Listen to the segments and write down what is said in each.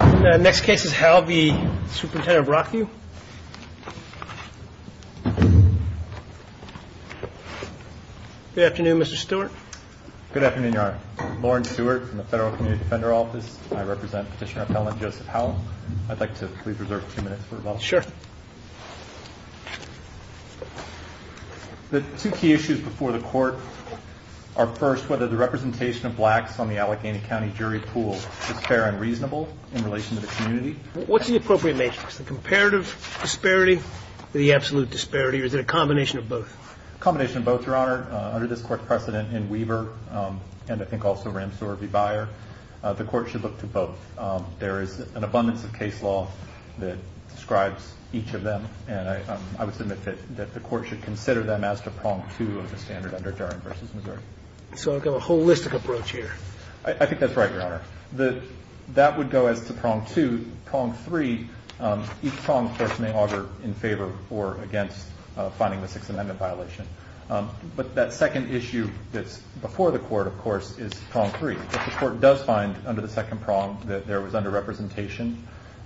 Good afternoon, Mr. Stewart. Good afternoon, Your Honor. Lauren Stewart from the Federal Community Defender Office. I represent Petitioner-Appellant Joseph Howell. I'd like to please reserve a few minutes for rebuttal. Sure. The two key issues before the court are first whether the representation of blacks on the Allegheny County jury pool is fair and reasonable in relation to the community. What's the appropriate matrix? The comparative disparity or the absolute disparity or is it a combination of both? A combination of both, Your Honor. Under this court's precedent in Weaver and I think also Ramsour v. Byer, the court should look to both. There is an abundance of case law that describes each of them. And I would submit that the court should consider them as to prong two of the standard under Durham v. Missouri. So I've got a holistic approach here. I think that's right, Your Honor. That would go as to prong two. Prong three, each prong may augur in favor or against finding the Sixth Amendment violation. But that second issue that's before the court, of course, is prong three. If the court does find under the second prong that there was underrepresentation,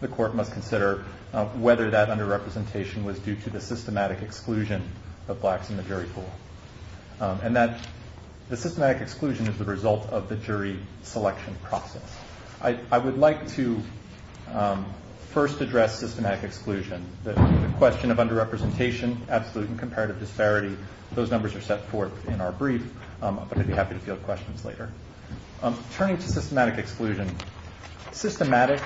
the court must consider whether that underrepresentation was due to the systematic exclusion of blacks in the jury pool. And the systematic exclusion is the result of the jury selection process. I would like to first address systematic exclusion. The question of underrepresentation, absolute and comparative disparity, those numbers are set forth in our brief, but I'd be happy to field questions later. Turning to systematic exclusion, systematic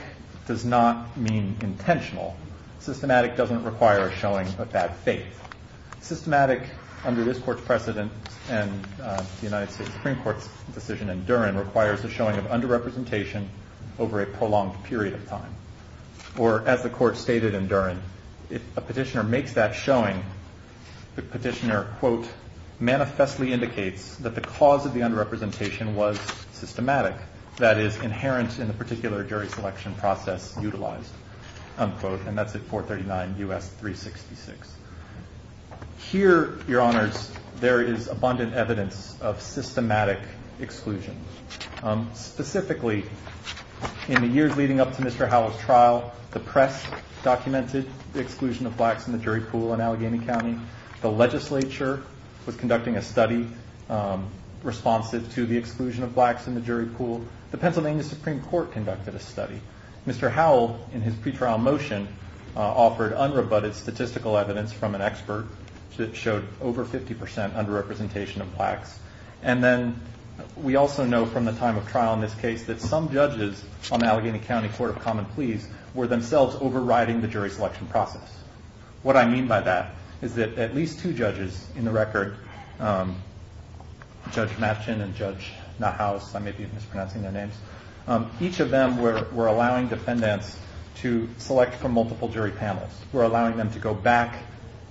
does not mean intentional. Systematic doesn't require a showing of bad faith. Systematic, under this court's precedent and the United States Supreme Court's decision in Durham, requires the showing of underrepresentation over a prolonged period of time. Or, as the court stated in Durham, if a petitioner makes that showing, the petitioner, quote, manifestly indicates that the cause of the underrepresentation was systematic, that is inherent in the particular jury selection process utilized, unquote. And that's at 439 U.S. 366. Here, Your Honors, there is abundant evidence of systematic exclusion. Specifically, in the years leading up to Mr. Howell's trial, the press documented the exclusion of blacks in the jury pool in Allegheny County. The legislature was conducting a study responsive to the exclusion of blacks in the jury pool. The Pennsylvania Supreme Court conducted a study. Mr. Howell, in his pre-trial motion, offered unrebutted statistical evidence from an expert that showed over 50 percent underrepresentation of blacks. And then, we also know from the time of trial in this case that some judges on the Allegheny County Court of Common Pleas were themselves overriding the jury selection process. What I mean by that is that at least two judges in the record, Judge Matchin and Judge Nahaus, I may be mispronouncing their names, each of them were allowing defendants to select from multiple jury panels. They were allowing them to go back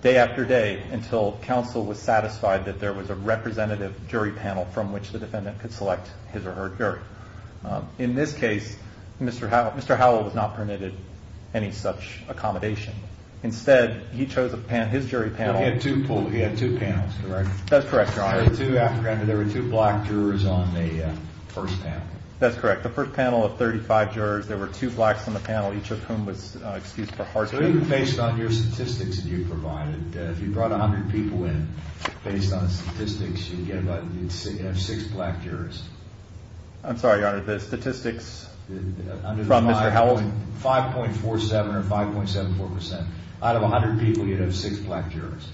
day after day until counsel was satisfied that there was a representative jury panel from which the defendant could select his or her jury. In this case, Mr. Howell was not permitted any such accommodation. Instead, he chose his jury panel. He had two panels, correct? That's correct, Your Honor. After all, there were two black jurors on the first panel. That's correct. The first panel of 35 jurors, there were two blacks on the panel, each of whom was excused for hardship. Based on your statistics that you provided, if you brought 100 people in, based on the statistics, you'd have six black jurors. I'm sorry, Your Honor, the statistics from Mr. Howell? 5.47 or 5.74 percent. Out of 100 people, you'd have six black jurors.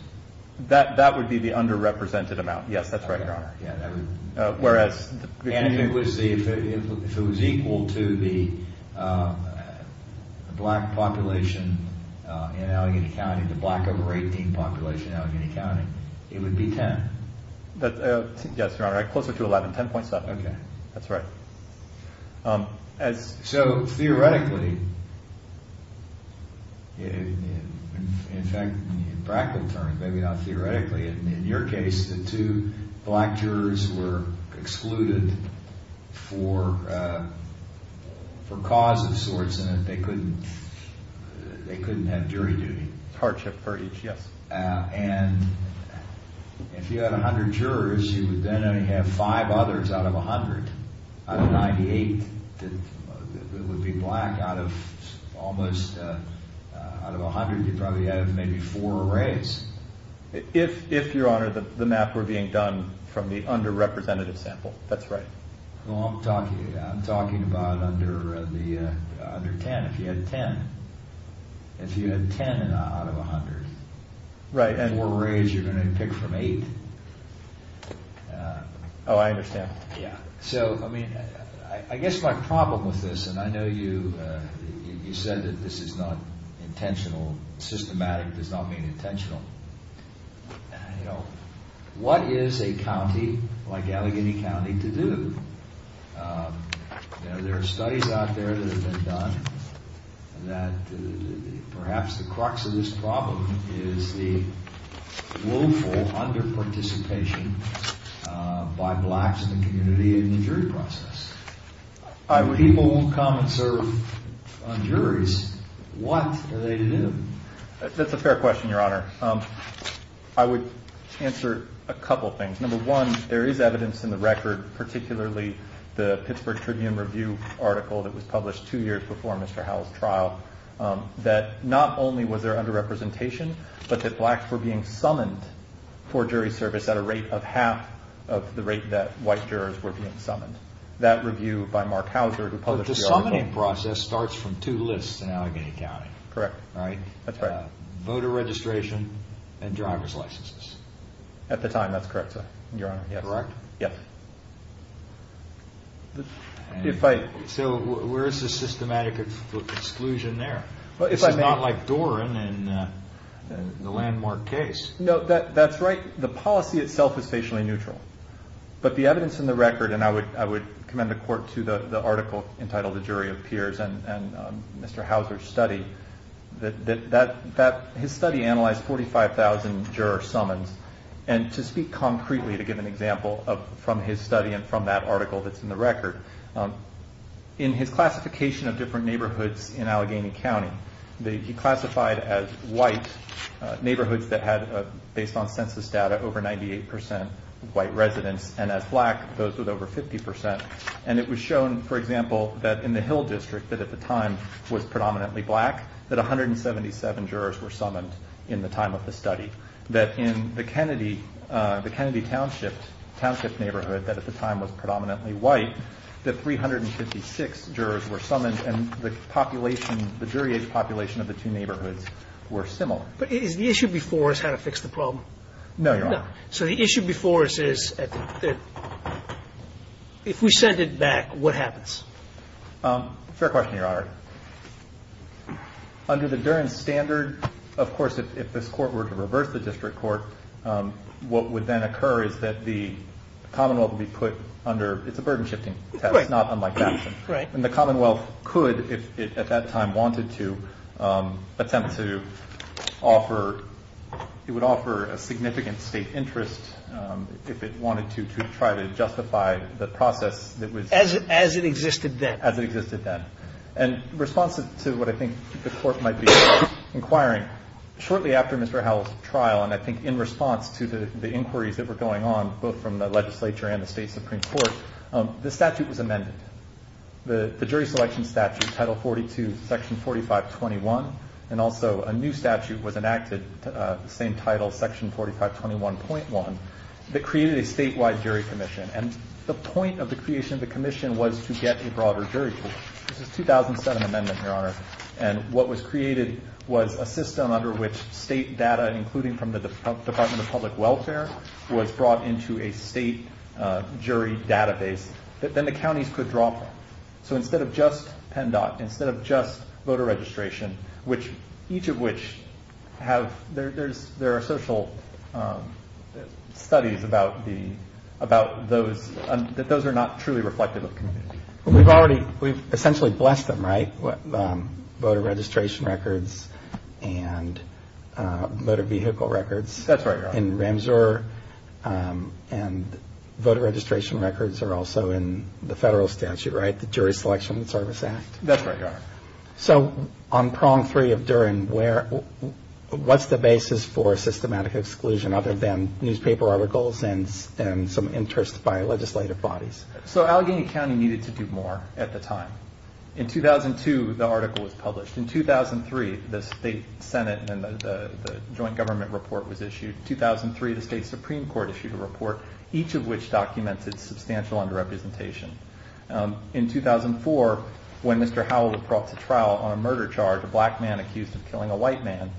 That would be the underrepresented amount. Yes, that's right. Whereas if it was equal to the black population in Allegheny County, the black over 18 population in Allegheny County, it would be 10. Yes, Your Honor, closer to 11, 10.7. Okay. That's right. So theoretically, in fact, in practical terms, maybe not theoretically, in your case, the two black jurors were excluded for cause of sorts. They couldn't have jury duty. Hardship per each, yes. And if you had 100 jurors, you would then only have five others out of 100. Out of 98 that would be black, out of almost, out of 100, you'd probably have maybe four or raise. If, Your Honor, the math were being done from the underrepresented sample, that's right. Well, I'm talking about under 10, if you had 10. If you had 10 out of 100. Right. And were raised, you're going to pick from eight. Oh, I understand. Yeah. So, I mean, I guess my problem with this, and I know you said that this is not intentional, systematic does not mean intentional. You know, what is a county like Allegheny County to do? You know, there are studies out there that have been done that perhaps the crux of this problem is the willful under participation by blacks in the community in the jury process. If people won't come and serve on juries, what are they to do? That's a fair question, Your Honor. I would answer a couple things. Number one, there is evidence in the record, particularly the Pittsburgh Tribune review article that was published two years before Mr. Howell's trial, that not only was there under representation, but that blacks were being summoned for jury service at a rate of half of the rate that white jurors were being summoned. That review by Mark Howser, who published the article. The summoning process starts from two lists in Allegheny County. Correct. Voter registration and driver's licenses. At the time, that's correct, Your Honor. Correct? Yes. So, where is the systematic exclusion there? It's not like Doran in the landmark case. No, that's right. The policy itself is facially neutral. But the evidence in the record, and I would commend the court to the article entitled The Jury of Peers and Mr. Howser's study, that his study analyzed 45,000 juror summons. And to speak concretely, to give an example from his study and from that article that's in the record, in his classification of different neighborhoods in Allegheny County, he classified as white neighborhoods that had, based on census data, over 98% white residents. And as black, those with over 50%. And it was shown, for example, that in the Hill District, that at the time was predominantly black, that 177 jurors were summoned in the time of the study. That in the Kennedy Township neighborhood, that at the time was predominantly white, that 356 jurors were summoned, and the population, the jury age population of the two neighborhoods were similar. But is the issue before us how to fix the problem? No, Your Honor. So the issue before us is if we send it back, what happens? Fair question, Your Honor. Under the Duran standard, of course, if this Court were to reverse the district what would then occur is that the Commonwealth would be put under the burden-shifting test, not unlike that one. Right. And the Commonwealth could, if at that time wanted to, attempt to offer, it would offer a significant state interest if it wanted to try to justify the process that was- As it existed then. As it existed then. And in response to what I think the Court might be inquiring, shortly after Mr. Howell's trial, and I think in response to the inquiries that were going on, both from the legislature and the State Supreme Court, the statute was amended. The jury selection statute, Title 42, Section 4521, and also a new statute was enacted, the same title, Section 4521.1, that created a statewide jury commission. And the point of the creation of the commission was to get a broader jury pool. This is a 2007 amendment, Your Honor. And what was created was a system under which state data, including from the Department of Public Welfare, was brought into a state jury database that then the counties could draw from. So instead of just PennDOT, instead of just voter registration, each of which have-there are social studies about those, that those are not truly reflective of the committee. We've already-we've essentially blessed them, right? Voter registration records and motor vehicle records. That's right, Your Honor. And voter registration records are also in the federal statute, right? The Jury Selection and Service Act. That's right, Your Honor. So on Prong 3 of Duren, where-what's the basis for systematic exclusion other than newspaper articles and some interests by legislative bodies? So Allegheny County needed to do more at the time. In 2002, the article was published. In 2003, the state senate and the joint government report was issued. In 2003, the state supreme court issued a report, each of which documented substantial underrepresentation. In 2004, when Mr. Howell was brought to trial on a murder charge, a black man accused of killing a white man,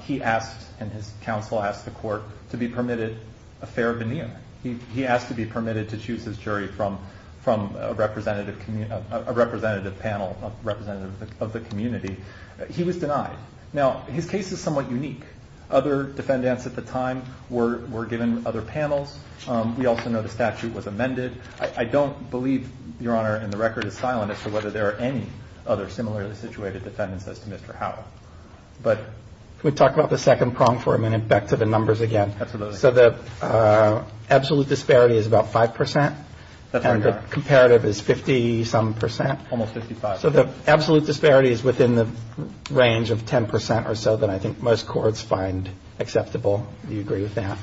he asked and his counsel asked the court to be permitted a fair veneer. He asked to be permitted to choose his jury from a representative panel, a representative of the community. He was denied. Now, his case is somewhat unique. Other defendants at the time were given other panels. We also know the statute was amended. I don't believe, Your Honor, in the record of silence as to whether there are any other similarly situated defendants as to Mr. Howell. But- Can we talk about the second prong for a minute? Back to the numbers again. Absolutely. So the absolute disparity is about 5%. That's right, Your Honor. And the comparative is 50-some percent. Almost 55. So the absolute disparity is within the range of 10% or so that I think most courts find acceptable. Do you agree with that?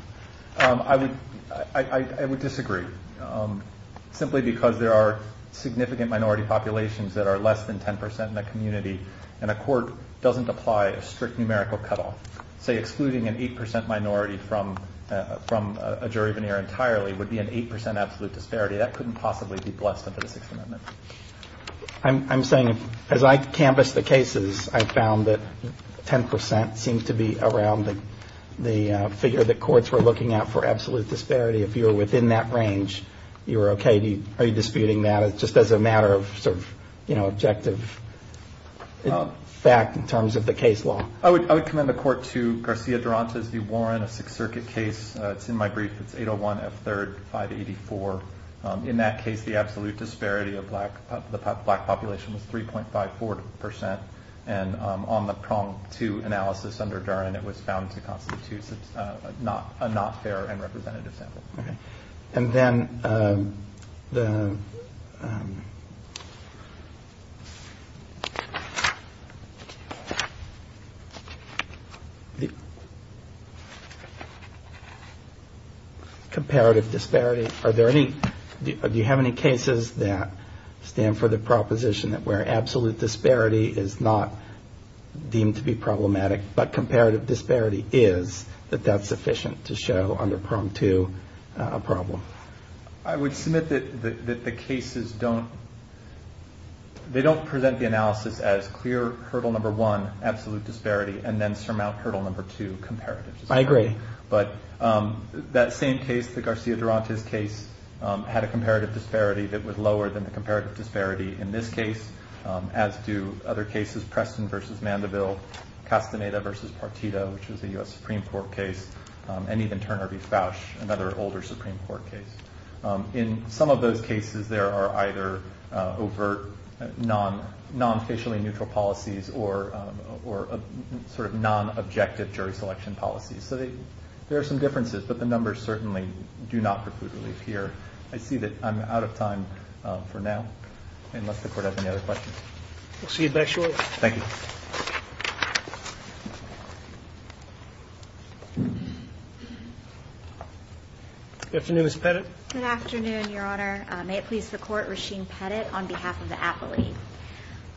I would disagree. Simply because there are significant minority populations that are less than 10% in the community and a court doesn't apply a strict numerical cutoff. Say, excluding an 8% minority from a jury veneer entirely would be an 8% absolute disparity. That couldn't possibly be blessed under the Sixth Amendment. I'm saying as I canvassed the cases, I found that 10% seemed to be around the figure that courts were looking at for absolute disparity. If you were within that range, you were okay. Are you disputing that just as a matter of objective fact in terms of the case law? I would commend the court to Garcia Durantes v. Warren, a Sixth Circuit case. It's in my brief. It's 801 F. 3rd 584. In that case, the absolute disparity of the black population was 3.54%. And on the prong two analysis under Durant, it was found to constitute a not fair and representative sample. Okay. And then the comparative disparity. Do you have any cases that stand for the proposition that where absolute disparity is not deemed to be problematic, but comparative disparity is, that that's sufficient to show under prong two a problem? I would submit that the cases don't present the analysis as clear hurdle number one, absolute disparity, and then surmount hurdle number two, comparative disparity. I agree. But that same case, the Garcia Durantes case, had a comparative disparity that was lower than the comparative disparity in this case, as do other cases, Preston v. Mandeville, Castaneda v. Partido, which was a U.S. Supreme Court case, and even Turner v. Fausch, another older Supreme Court case. In some of those cases, there are either overt, non-facially neutral policies or sort of non-objective jury selection policies. So there are some differences, but the numbers certainly do not preclude relief here. I see that I'm out of time for now, unless the Court has any other questions. We'll see you back shortly. Thank you. Good afternoon, Ms. Pettit. Good afternoon, Your Honor. May it please the Court, Rasheen Pettit on behalf of the appellee.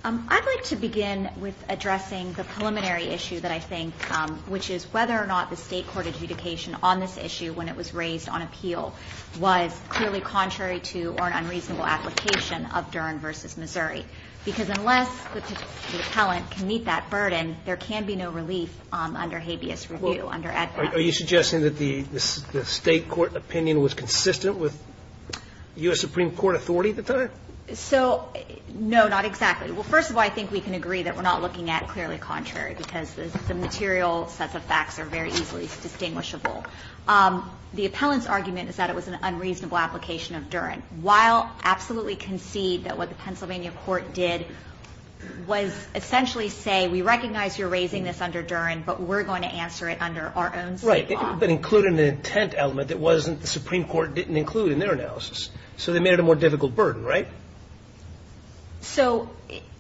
I'd like to begin with addressing the preliminary issue that I think, which is whether or not the State court adjudication on this issue when it was raised on appeal was clearly contrary to or an unreasonable application of Dern v. Missouri. Because unless the appellant can meet that burden, there can be no relief under habeas review, under EDPA. Are you suggesting that the State court opinion was consistent with U.S. Supreme Court authority at the time? So, no, not exactly. Well, first of all, I think we can agree that we're not looking at clearly contrary because the material sets of facts are very easily distinguishable. The appellant's argument is that it was an unreasonable application of Dern. While absolutely concede that what the Pennsylvania court did was essentially say, we recognize you're raising this under Dern, but we're going to answer it under our own State law. Right, but include an intent element that wasn't the Supreme Court didn't include in their analysis. So they made it a more difficult burden, right? So,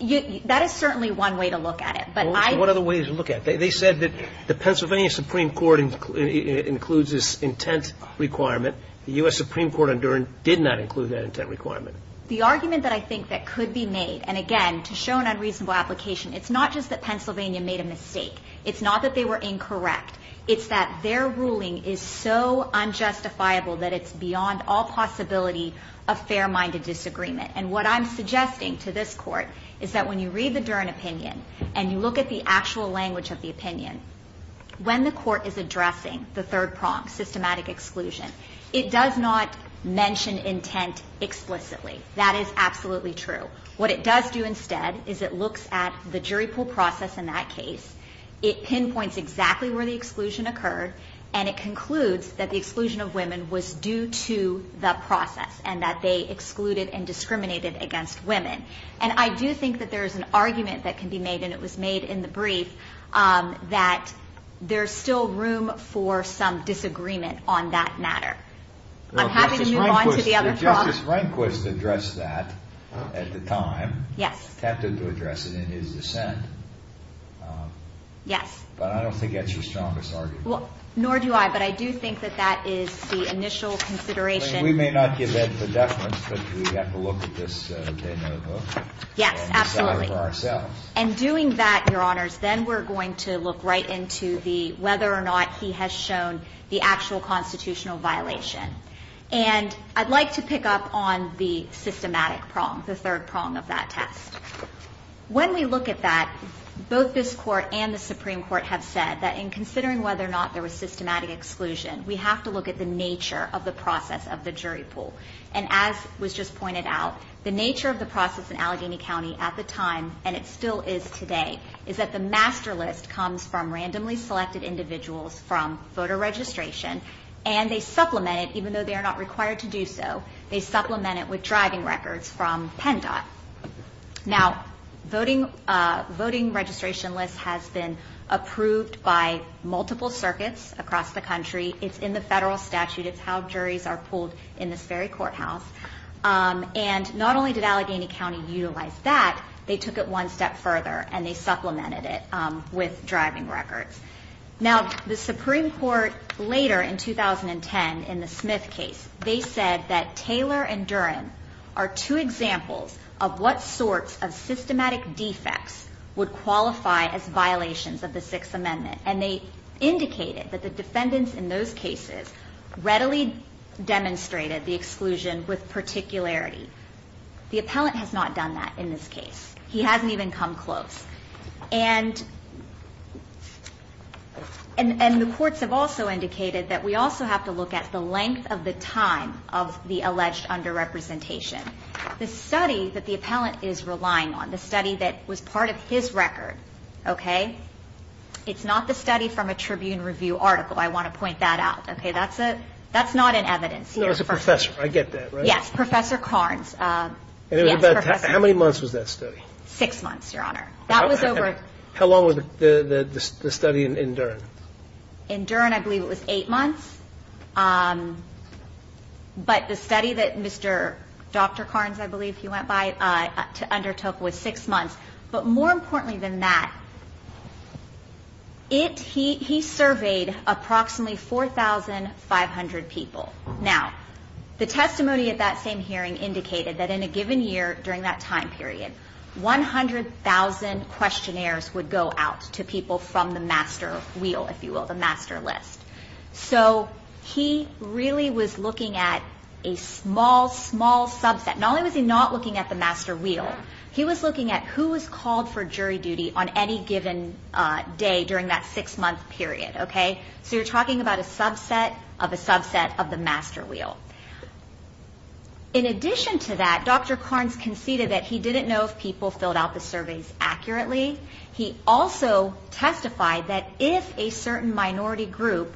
that is certainly one way to look at it. What other ways to look at it? They said that the Pennsylvania Supreme Court includes this intent requirement. The U.S. Supreme Court on Dern did not include that intent requirement. The argument that I think that could be made, and again, to show an unreasonable application, it's not just that Pennsylvania made a mistake. It's not that they were incorrect. It's that their ruling is so unjustifiable that it's beyond all possibility of fair-minded disagreement. And what I'm suggesting to this Court is that when you read the Dern opinion and you look at the actual language of the opinion, when the Court is addressing the third prong, systematic exclusion, it does not mention intent explicitly. That is absolutely true. What it does do instead is it looks at the jury pool process in that case. It pinpoints exactly where the exclusion occurred, and it concludes that the exclusion of women was due to the process and that they excluded and discriminated against women. And I do think that there is an argument that can be made, and it was made in the brief, that there's still room for some disagreement on that matter. I'm happy to move on to the other prong. Justice Rehnquist addressed that at the time. Yes. Attempted to address it in his dissent. Yes. But I don't think that's your strongest argument. Nor do I, but I do think that that is the initial consideration. We may not give that for definite, but we have to look at this de novo. Yes, absolutely. And decide for ourselves. And doing that, Your Honors, then we're going to look right into the whether or not he has shown the actual constitutional violation. And I'd like to pick up on the systematic prong, the third prong of that test. When we look at that, both this Court and the Supreme Court have said that in considering whether or not there was systematic exclusion, we have to look at the nature of the process of the jury pool. And as was just pointed out, the nature of the process in Allegheny County at the time, and it still is today, is that the master list comes from randomly selected individuals from voter registration, and they supplement it, even though they are not required to do so. They supplement it with driving records from PennDOT. Now, voting registration list has been approved by multiple circuits across the country. It's in the federal statute. It's how juries are pooled in this very courthouse. And not only did Allegheny County utilize that, they took it one step further, and they supplemented it with driving records. Now, the Supreme Court later in 2010 in the Smith case, they said that Taylor and Duren are two examples of what sorts of systematic defects would qualify as violations of the Sixth Amendment. And they indicated that the defendants in those cases readily demonstrated the exclusion with particularity. The appellant has not done that in this case. He hasn't even come close. And the courts have also indicated that we also have to look at the length of the time of the alleged underrepresentation. The study that the appellant is relying on, the study that was part of his record, okay, it's not the study from a Tribune Review article. I want to point that out. Okay, that's not in evidence here. No, it's a professor. I get that, right? Yes, Professor Carnes. How many months was that study? Six months, Your Honor. How long was the study in Duren? In Duren, I believe it was eight months. But the study that Mr. Dr. Carnes, I believe he went by, undertook was six months. But more importantly than that, he surveyed approximately 4,500 people. Now, the testimony at that same hearing indicated that in a given year during that time period, 100,000 questionnaires would go out to people from the master wheel, if you will, the master list. So he really was looking at a small, small subset. Not only was he not looking at the master wheel, he was looking at who was called for jury duty on any given day during that six-month period, okay? So you're talking about a subset of a subset of the master wheel. In addition to that, Dr. Carnes conceded that he didn't know if people filled out the surveys accurately. He also testified that if a certain minority group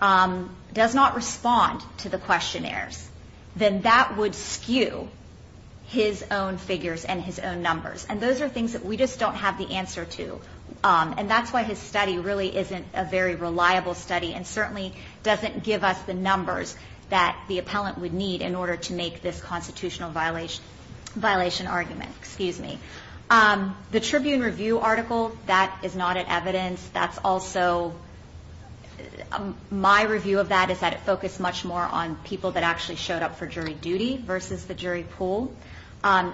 does not respond to the questionnaires, then that would skew his own figures and his own numbers. And those are things that we just don't have the answer to. And that's why his study really isn't a very reliable study and certainly doesn't give us the numbers that the appellant would need in order to make this constitutional violation argument. Excuse me. The Tribune Review article, that is not an evidence. That's also my review of that is that it focused much more on people that actually showed up for jury duty versus the jury pool.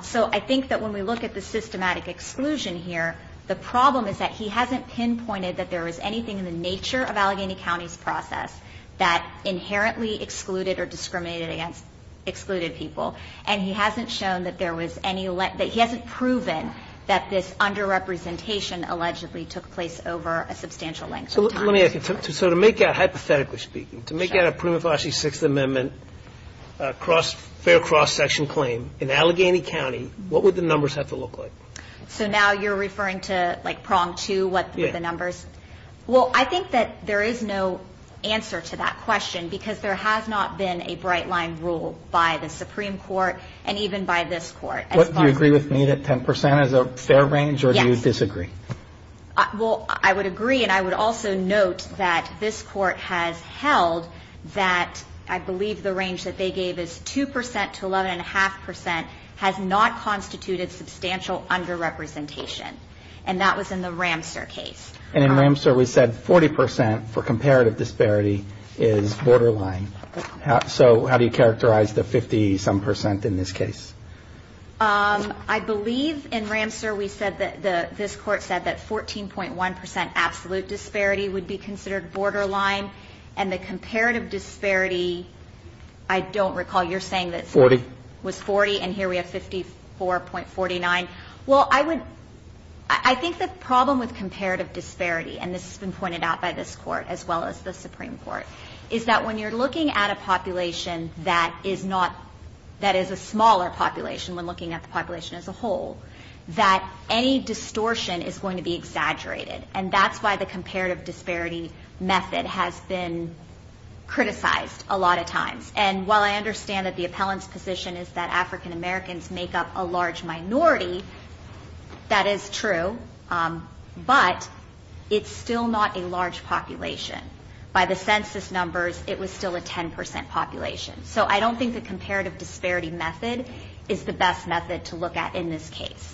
So I think that when we look at the systematic exclusion here, the problem is that he hasn't pinpointed that there was anything in the nature of Allegheny County's process that inherently excluded or discriminated against excluded people. And he hasn't shown that there was any – that he hasn't proven that this underrepresentation allegedly took place over a substantial length of time. So let me ask you. So to make out, hypothetically speaking, to make out a prima facie Sixth Amendment cross – fair cross-section claim in Allegheny County, what would the numbers have to look like? So now you're referring to, like, prong two? What were the numbers? Well, I think that there is no answer to that question because there has not been a bright-line rule by the Supreme Court and even by this Court. Do you agree with me that 10 percent is a fair range? Yes. Or do you disagree? Well, I would agree. And I would also note that this Court has held that I believe the range that they gave is 2 percent to 11.5 percent has not constituted substantial underrepresentation. And that was in the Ramseur case. And in Ramseur we said 40 percent for comparative disparity is borderline. So how do you characterize the 50-some percent in this case? I believe in Ramseur we said that – this Court said that 14.1 percent absolute disparity would be considered borderline. And the comparative disparity, I don't recall. You're saying that – Ramseur, we have 54.49. Well, I would – I think the problem with comparative disparity, and this has been pointed out by this Court as well as the Supreme Court, is that when you're looking at a population that is not – that is a smaller population when looking at the population as a whole, that any distortion is going to be exaggerated. And that's why the comparative disparity method has been criticized a lot of times. And while I understand that the appellant's position is that African Americans make up a large minority, that is true, but it's still not a large population. By the census numbers, it was still a 10 percent population. So I don't think the comparative disparity method is the best method to look at in this case.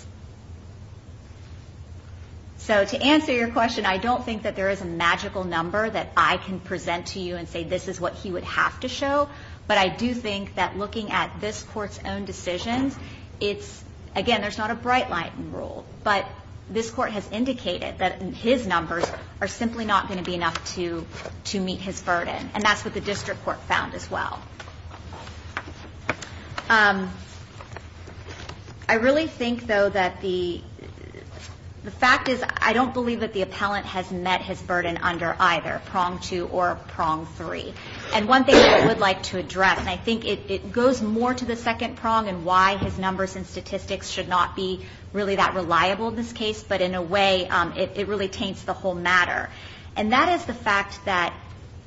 So to answer your question, I don't think that there is a magical number that I can present to you and say this is what he would have to show. But I do think that looking at this Court's own decisions, it's – again, there's not a bright light in rule. But this Court has indicated that his numbers are simply not going to be enough to meet his burden, and that's what the district court found as well. I really think, though, that the – the fact is I don't believe that the appellant has met his burden under either prong two or prong three. And one thing that I would like to address, and I think it goes more to the second prong and why his numbers and statistics should not be really that reliable in this case, but in a way it really taints the whole matter, and that is the fact that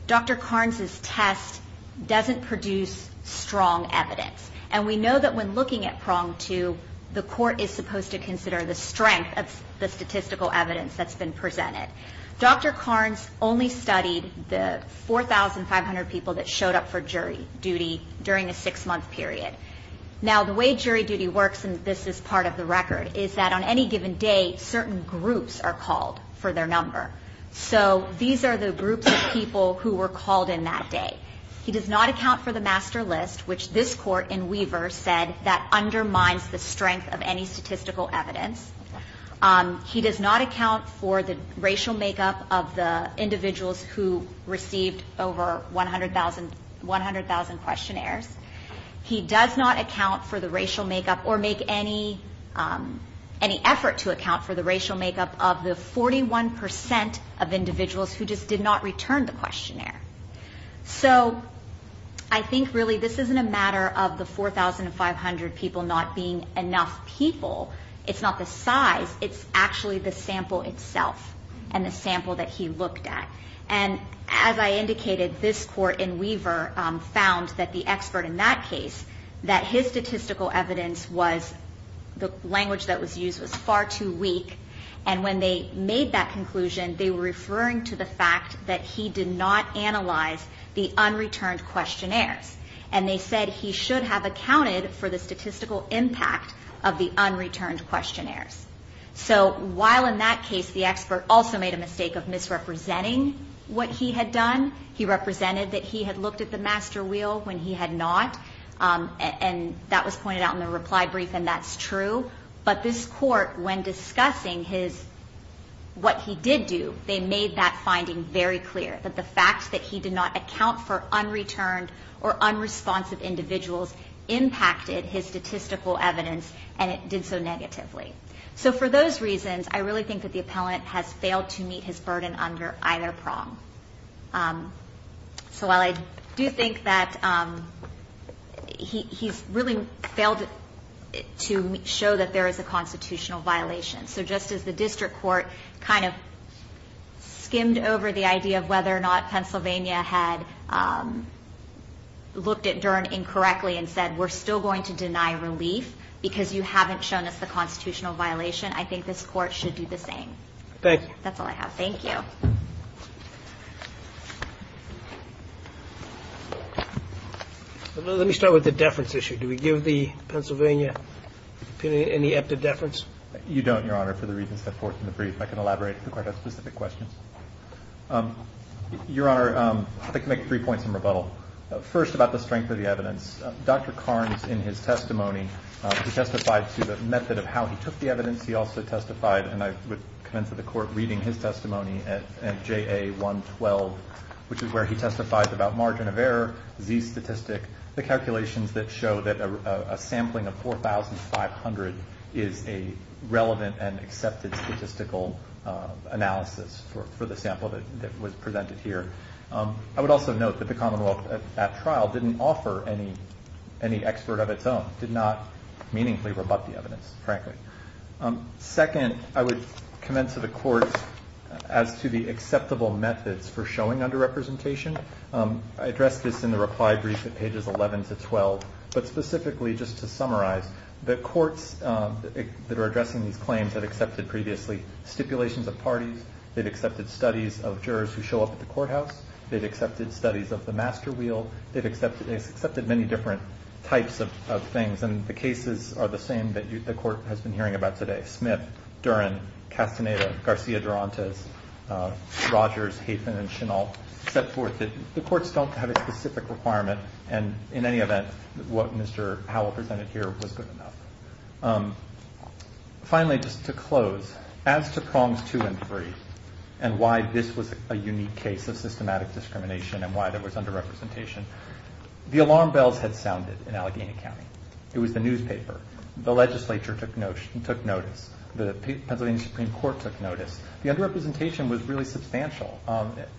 Dr. Carnes' test doesn't produce strong evidence. And we know that when looking at prong two, the Court is supposed to consider the strength of the statistical evidence that's been presented. Dr. Carnes only studied the 4,500 people that showed up for jury duty during a six-month period. Now, the way jury duty works, and this is part of the record, is that on any given day certain groups are called for their number. So these are the groups of people who were called in that day. He does not account for the master list, which this Court in Weaver said that undermines the strength of any statistical evidence. He does not account for the racial makeup of the individuals who received over 100,000 questionnaires. He does not account for the racial makeup or make any effort to account for the racial makeup of the 41% of individuals who just did not return the questionnaire. So I think really this isn't a matter of the 4,500 people not being enough people. It's not the size. It's actually the sample itself and the sample that he looked at. And as I indicated, this Court in Weaver found that the expert in that case, that his statistical evidence was the language that was used was far too weak. And when they made that conclusion, they were referring to the fact that he did not analyze the unreturned questionnaires. And they said he should have accounted for the statistical impact of the unreturned questionnaires. So while in that case the expert also made a mistake of misrepresenting what he had done, he represented that he had looked at the master wheel when he had not. And that was pointed out in the reply brief, and that's true. But this Court, when discussing what he did do, they made that finding very clear, that the fact that he did not account for unreturned or unresponsive individuals impacted his statistical evidence, and it did so negatively. So for those reasons, I really think that the appellant has failed to meet his burden under either prong. So while I do think that he's really failed to show that there is a constitutional violation, so just as the district court kind of skimmed over the idea of whether or not Pennsylvania had looked at Dern incorrectly and said, we're still going to deny relief because you haven't shown us the constitutional violation, I think this Court should do the same. Thank you. That's all I have. Thank you. Let me start with the deference issue. Do we give the Pennsylvania opinion any empty deference? You don't, Your Honor, for the reasons set forth in the brief. I can elaborate if the Court has specific questions. Your Honor, I can make three points in rebuttal. First, about the strength of the evidence. Dr. Carnes, in his testimony, he testified to the method of how he took the evidence. He also testified, and I would commend to the Court reading his testimony at JA 112, which is where he testified about margin of error, Z statistic, the calculations that show that a sampling of 4,500 is a relevant and accepted statistical analysis for the sample that was presented here. I would also note that the Commonwealth at trial didn't offer any expert of its own, did not meaningfully rebut the evidence, frankly. Second, I would commend to the Court as to the acceptable methods for showing underrepresentation. I addressed this in the reply brief at pages 11 to 12, but specifically just to summarize, the courts that are addressing these claims have accepted previously stipulations of parties. They've accepted studies of jurors who show up at the courthouse. They've accepted studies of the master wheel. They've accepted many different types of things, and the cases are the same that the Court has been hearing about today. Smith, Duren, Castaneda, Garcia-Durantes, Rogers, Haithman, and Chenault, set forth that the courts don't have a specific requirement, and in any event, what Mr. Howell presented here was good enough. Finally, just to close, as to prongs two and three and why this was a unique case of systematic discrimination and why there was underrepresentation, the alarm bells had sounded in Allegheny County. It was the newspaper. The legislature took notice. The Pennsylvania Supreme Court took notice. The underrepresentation was really substantial.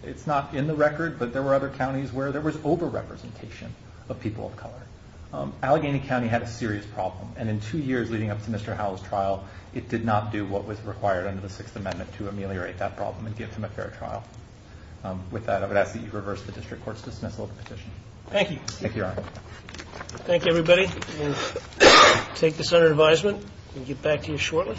It's not in the record, but there were other counties where there was overrepresentation of people of color. Allegheny County had a serious problem, and in two years leading up to Mr. Howell's trial, it did not do what was required under the Sixth Amendment to ameliorate that problem and give him a fair trial. With that, I would ask that you reverse the District Court's dismissal of the petition. Thank you. Thank you, Your Honor. Thank you, everybody. We'll take this under advisement and get back to you shortly.